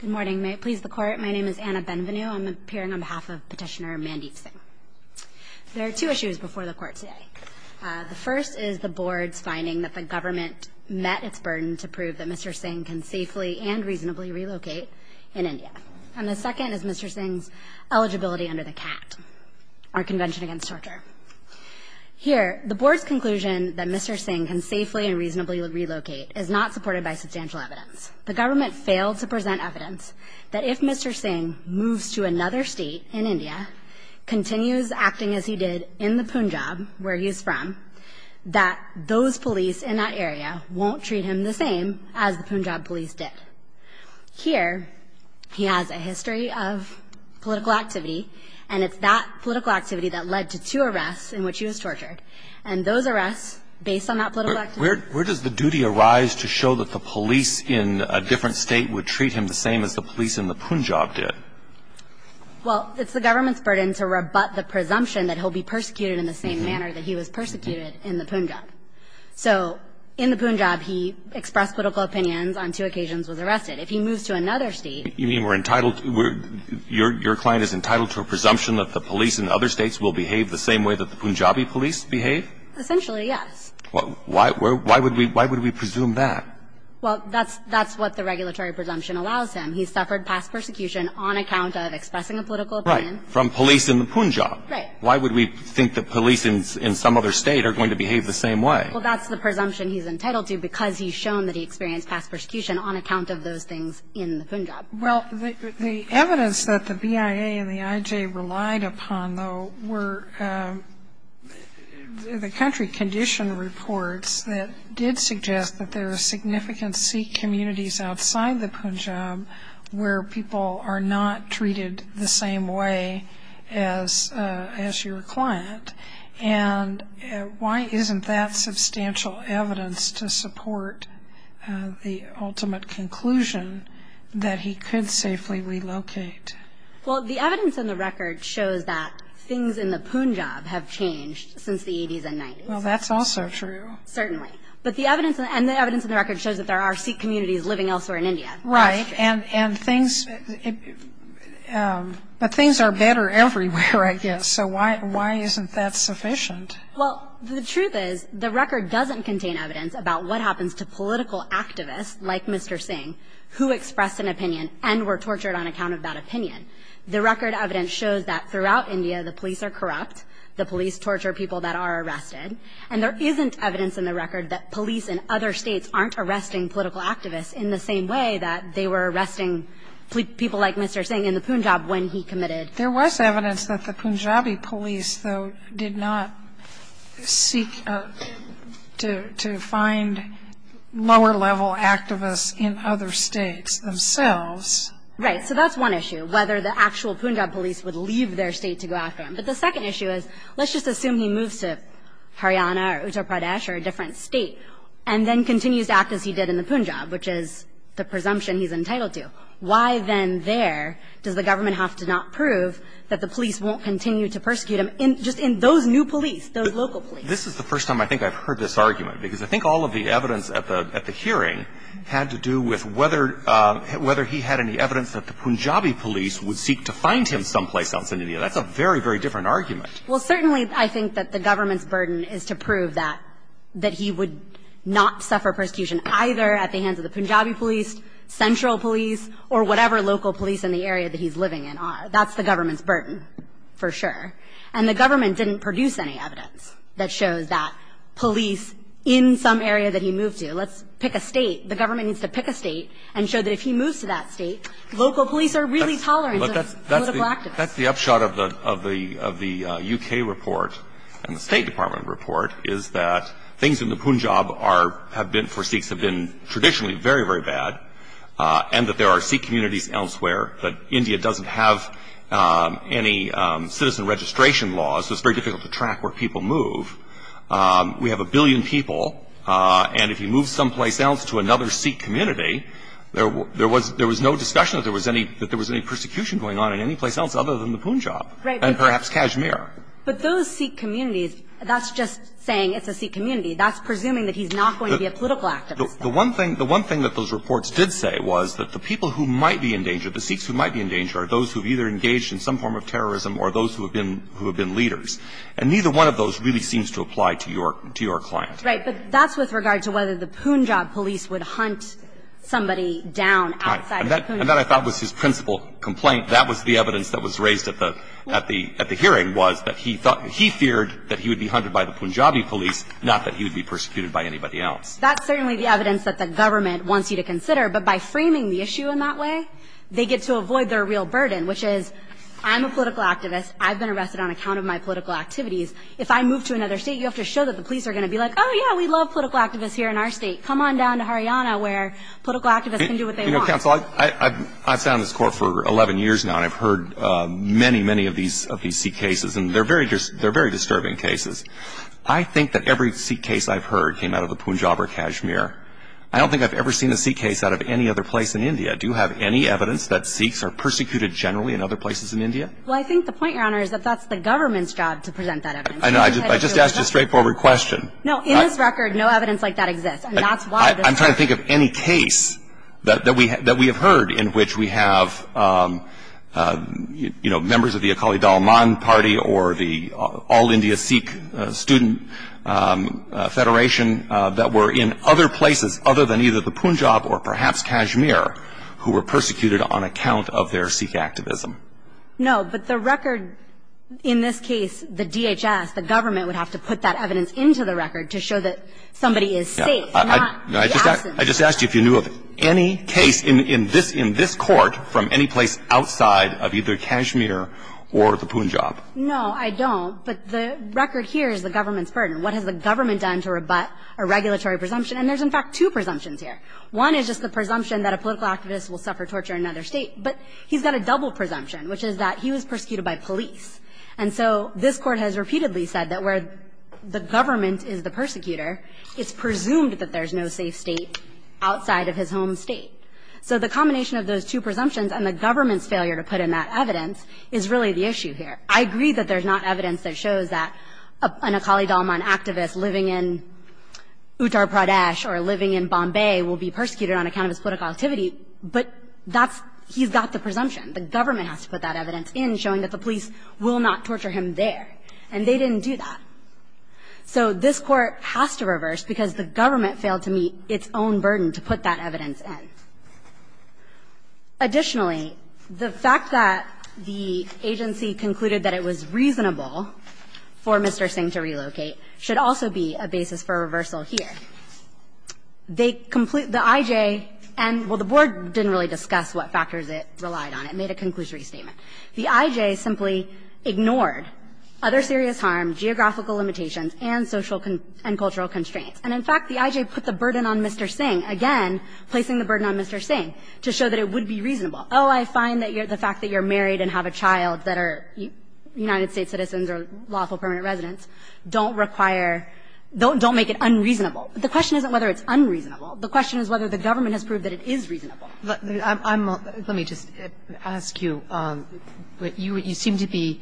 Good morning. May it please the Court, my name is Anna Benvenue. I'm appearing on behalf of Petitioner Mandeep Singh. There are two issues before the Court today. The first is the Board's finding that the government met its burden to prove that Mr. Singh can safely and reasonably relocate in India. And the second is Mr. Singh's eligibility under the CAT, our Convention Against Torture. Here, the Board's conclusion that Mr. Singh can safely and reasonably relocate is not supported by substantial evidence. The government failed to present evidence that if Mr. Singh moves to another state in India, continues acting as he did in the Punjab, where he is from, that those police in that area won't treat him the same as the Punjab police did. Here, he has a history of political activity, and it's that political activity that led to two arrests in which he was tortured. And those arrests, based on that political activity... Where does the duty arise to show that the police in a different state would treat him the same as the police in the Punjab did? Well, it's the government's burden to rebut the presumption that he'll be persecuted in the same manner that he was persecuted in the Punjab. So in the Punjab, he expressed political opinions on two occasions, was arrested. If he moves to another state... You mean we're entitled to – your client is entitled to a presumption that the police in other states will behave the same way that the Punjabi police behave? Essentially, yes. Why would we presume that? Well, that's what the regulatory presumption allows him. He suffered past persecution on account of expressing a political opinion... Right. From police in the Punjab. Right. Why would we think that police in some other state are going to behave the same way? Well, that's the presumption he's entitled to because he's shown that he experienced past persecution on account of those things in the Punjab. Well, the evidence that the BIA and the IJ relied upon, though, were the country condition reports that did suggest that there are significant Sikh communities outside the Punjab where people are not treated the same way as your client. And why isn't that substantial evidence to support the ultimate conclusion that he could safely relocate? Well, the evidence in the record shows that things in the Punjab have changed since the 80s and 90s. Well, that's also true. Certainly. But the evidence – and the evidence in the record shows that there are Sikh communities living elsewhere in India. Right. And things – but things are better everywhere, I guess. So why isn't that sufficient? Well, the truth is the record doesn't contain evidence about what happens to political activists like Mr. Singh who expressed an opinion and were tortured on account of that opinion. The record evidence shows that throughout India the police are corrupt. The police torture people that are arrested. And there isn't evidence in the record that police in other states aren't arresting political activists in the same way that they were arresting people like Mr. Singh in the Punjab when he committed. There was evidence that the Punjabi police, though, did not seek to find lower-level activists in other states themselves. Right. So that's one issue, whether the actual Punjab police would leave their state to go after him. But the second issue is, let's just assume he moves to Haryana or Uttar Pradesh or a different state and then continues to act as he did in the Punjab, which is the presumption he's entitled to. Why then there does the government have to not prove that the police won't continue to persecute him, just in those new police, those local police? This is the first time I think I've heard this argument, because I think all of the evidence at the hearing had to do with whether he had any evidence that the Punjabi police would seek to find him someplace else in India. That's a very, very different argument. Well, certainly I think that the government's burden is to prove that he would not suffer persecution either at the hands of the Punjabi police, central police, or whatever local police in the area that he's living in are. That's the government's burden for sure. And the government didn't produce any evidence that shows that police in some area that he moved to, let's pick a state, the government needs to pick a state and show that if he moves to that state, local police are really tolerant of political activists. That's the upshot of the U.K. report and the State Department report, is that things in the Punjab have been, for Sikhs, have been traditionally very, very bad, and that there are Sikh communities elsewhere, that India doesn't have any citizen registration laws, so it's very difficult to track where people move. We have a billion people, and if he moves someplace else to another Sikh community, there was no discussion that there was any persecution going on in any place else other than the Punjab. Right. And perhaps Kashmir. But those Sikh communities, that's just saying it's a Sikh community. That's presuming that he's not going to be a political activist. The one thing that those reports did say was that the people who might be in danger, the Sikhs who might be in danger are those who have either engaged in some form of terrorism or those who have been leaders. And neither one of those really seems to apply to your client. Right. But that's with regard to whether the Punjab police would hunt somebody down outside of Punjab. Right. And that I thought was his principal complaint. That was the evidence that was raised at the hearing was that he feared that he would be hunted by the Punjabi police, not that he would be persecuted by anybody else. That's certainly the evidence that the government wants you to consider. But by framing the issue in that way, they get to avoid their real burden, which is, I'm a political activist. I've been arrested on account of my political activities. If I move to another state, you have to show that the police are going to be like, oh, yeah, we love political activists here in our state. Come on down to Haryana where political activists can do what they want. You know, counsel, I've sat on this court for 11 years now, and I've heard many, many of these Sikh cases, and they're very disturbing cases. I think that every Sikh case I've heard came out of the Punjab or Kashmir. I don't think I've ever seen a Sikh case out of any other place in India. Do you have any evidence that Sikhs are persecuted generally in other places in India? Well, I think the point, Your Honor, is that that's the government's job to present that evidence. I know. I just asked a straightforward question. No, in this record, no evidence like that exists. I'm trying to think of any case that we have heard in which we have, you know, members of the Akali Dalman Party or the All India Sikh Student Federation that were in other places other than either the Punjab or perhaps Kashmir who were persecuted on account of their Sikh activism. No, but the record in this case, the DHS, the government would have to put that evidence into the record to show that somebody is safe. I just asked you if you knew of any case in this court from any place outside of either Kashmir or the Punjab. No, I don't. But the record here is the government's burden. What has the government done to rebut a regulatory presumption? And there's, in fact, two presumptions here. One is just the presumption that a political activist will suffer torture in another state. But he's got a double presumption, which is that he was persecuted by police. And so this court has repeatedly said that where the government is the persecutor, it's presumed that there's no safe state outside of his home state. So the combination of those two presumptions and the government's failure to put in that evidence is really the issue here. I agree that there's not evidence that shows that an Akali Dalman activist living in Uttar Pradesh or living in Bombay will be persecuted on account of his political activity, but that's he's got the presumption. The government has to put that evidence in showing that the police will not torture him there, and they didn't do that. So this court has to reverse because the government failed to meet its own burden to put that evidence in. Additionally, the fact that the agency concluded that it was reasonable for Mr. Singh to relocate should also be a basis for a reversal here. The I.J. and the board didn't really discuss what factors it relied on. It made a conclusory statement. The I.J. simply ignored other serious harm, geographical limitations, and social and cultural constraints. And in fact, the I.J. put the burden on Mr. Singh, again, placing the burden on Mr. Singh, to show that it would be reasonable. Oh, I find that the fact that you're married and have a child that are United States citizens or lawful permanent residents don't require, don't make it unreasonable. The question isn't whether it's unreasonable. The question is whether the government has proved that it is reasonable. Let me just ask you, you seem to be,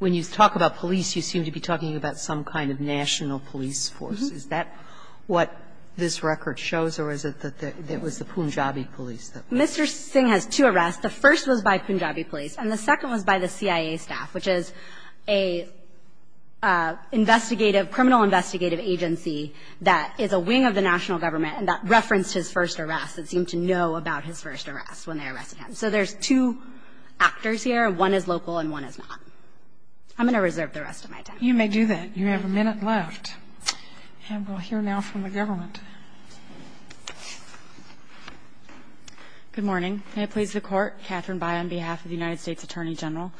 when you talk about police, you seem to be talking about some kind of national police force. Is that what this record shows, or is it that it was the Punjabi police? Mr. Singh has two arrests. The first was by Punjabi police, and the second was by the CIA staff, which is a investigative criminal investigative agency that is a wing of the national government and that referenced his first arrest and seemed to know about his first arrest when they arrested him. So there's two actors here. One is local and one is not. I'm going to reserve the rest of my time. You may do that. You have a minute left. And we'll hear now from the government. Good morning. May it please the Court. Catherine By on behalf of the United States Attorney General.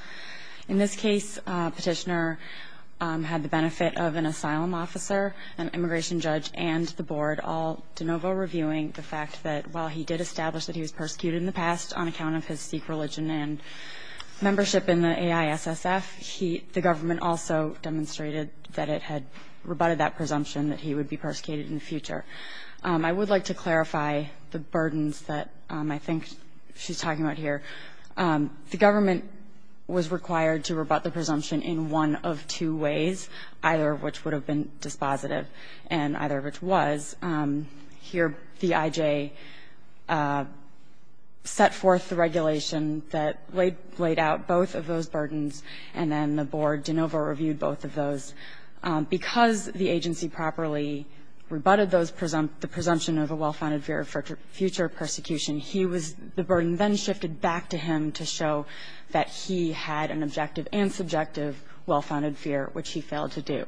In this case, Petitioner had the benefit of an asylum officer, an immigration judge, and the board all de novo reviewing the fact that while he did establish that he was persecuted in the past on account of his Sikh religion and membership in the AISSF, he, the government also demonstrated that it had rebutted that presumption that he would be persecuted in the future. I would like to clarify the burdens that I think she's talking about here. The government was required to rebut the presumption in one of two ways, either of which would have been dispositive and either of which was. Here, the I.J. set forth the regulation that laid out both of those burdens, and then the board de novo reviewed both of those. Because the agency properly rebutted the presumption of a well-founded fear of future persecution, he was the burden then shifted back to him to show that he had an objective and subjective well-founded fear, which he failed to do.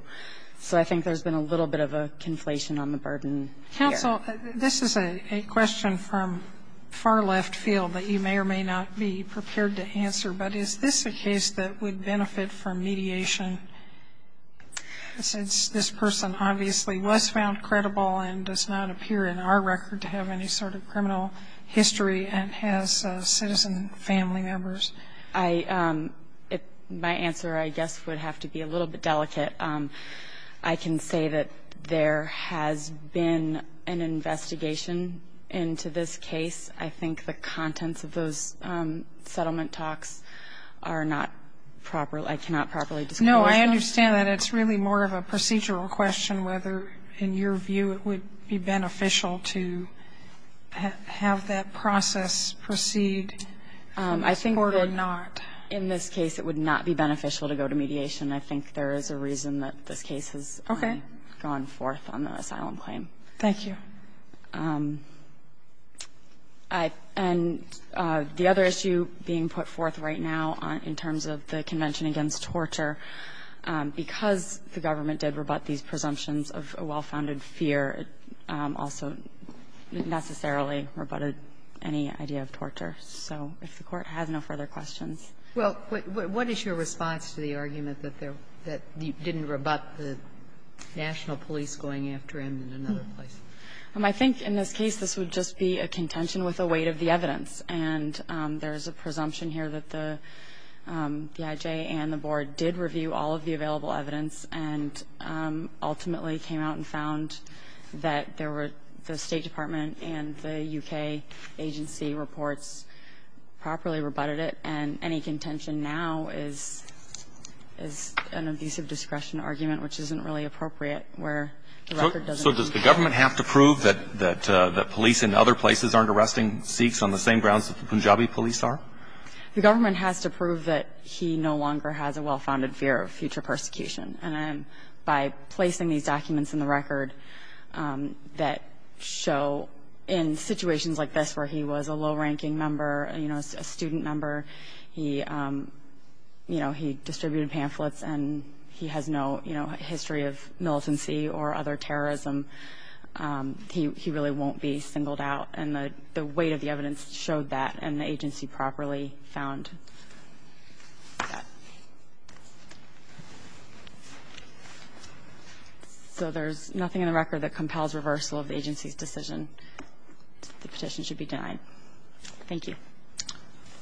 So I think there's been a little bit of a conflation on the burden here. Counsel, this is a question from far left field that you may or may not be prepared to answer, but is this a case that would benefit from mediation since this person obviously was found credible and does not appear in our record to have any sort of criminal history and has citizen family members? My answer, I guess, would have to be a little bit delicate. I can say that there has been an investigation into this case. I think the contents of those settlement talks are not proper. I cannot properly describe them. I understand that it's really more of a procedural question whether, in your view, it would be beneficial to have that process proceed in this court or not. I think that in this case it would not be beneficial to go to mediation. I think there is a reason that this case has gone forth on the asylum claim. Okay. Thank you. And the other issue being put forth right now in terms of the Convention Against Torture, because the government did rebut these presumptions of a well-founded fear, it also necessarily rebutted any idea of torture. So if the Court has no further questions. Well, what is your response to the argument that there was that you didn't rebut the national police going after him in another place? I think in this case this would just be a contention with the weight of the evidence. And there is a presumption here that the IJ and the Board did review all of the available evidence and ultimately came out and found that there were the State Department and the U.K. agency reports properly rebutted it. And any contention now is an abusive discretion argument which isn't really appropriate where the record doesn't show. So does the government have to prove that police in other places aren't arresting Sikhs on the same grounds that the Punjabi police are? The government has to prove that he no longer has a well-founded fear of future persecution. And by placing these documents in the record that show in situations like this where he was a low-ranking member, a student member, he distributed pamphlets and he has no history of militancy or other terrorism, he really won't be singled out. And the weight of the evidence showed that and the agency properly found that. So there's nothing in the record that compels reversal of the agency's decision. The petition should be denied. Thank you.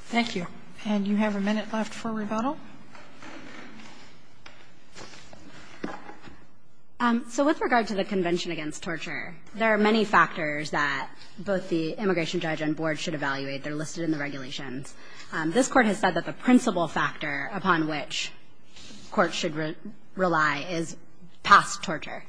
Thank you. And you have a minute left for rebuttal. So with regard to the Convention Against Torture, there are many factors that both the immigration judge and board should evaluate. They're listed in the regulations. This Court has said that the principal factor upon which courts should rely is past torture.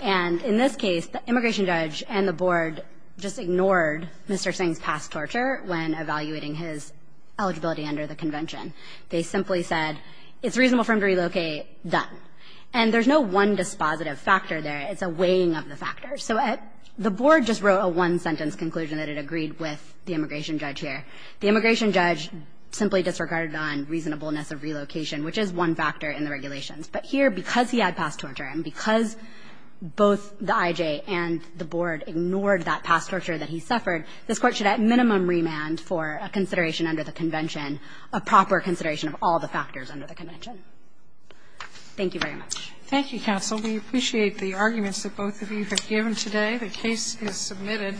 And in this case, the immigration judge and the board just ignored Mr. Singh's past torture when evaluating his eligibility under the convention. They simply said, it's reasonable for him to relocate, done. And there's no one dispositive factor there. It's a weighing of the factors. So the board just wrote a one-sentence conclusion that it agreed with the immigration judge here. The immigration judge simply disregarded on reasonableness of relocation, which is one factor in the regulations. But here, because he had past torture and because both the IJ and the board ignored that past torture that he suffered, this Court should at minimum remand for a consideration under the convention, a proper consideration of all the factors under the convention. Thank you very much. Thank you, counsel. We appreciate the arguments that both of you have given today. The case is submitted.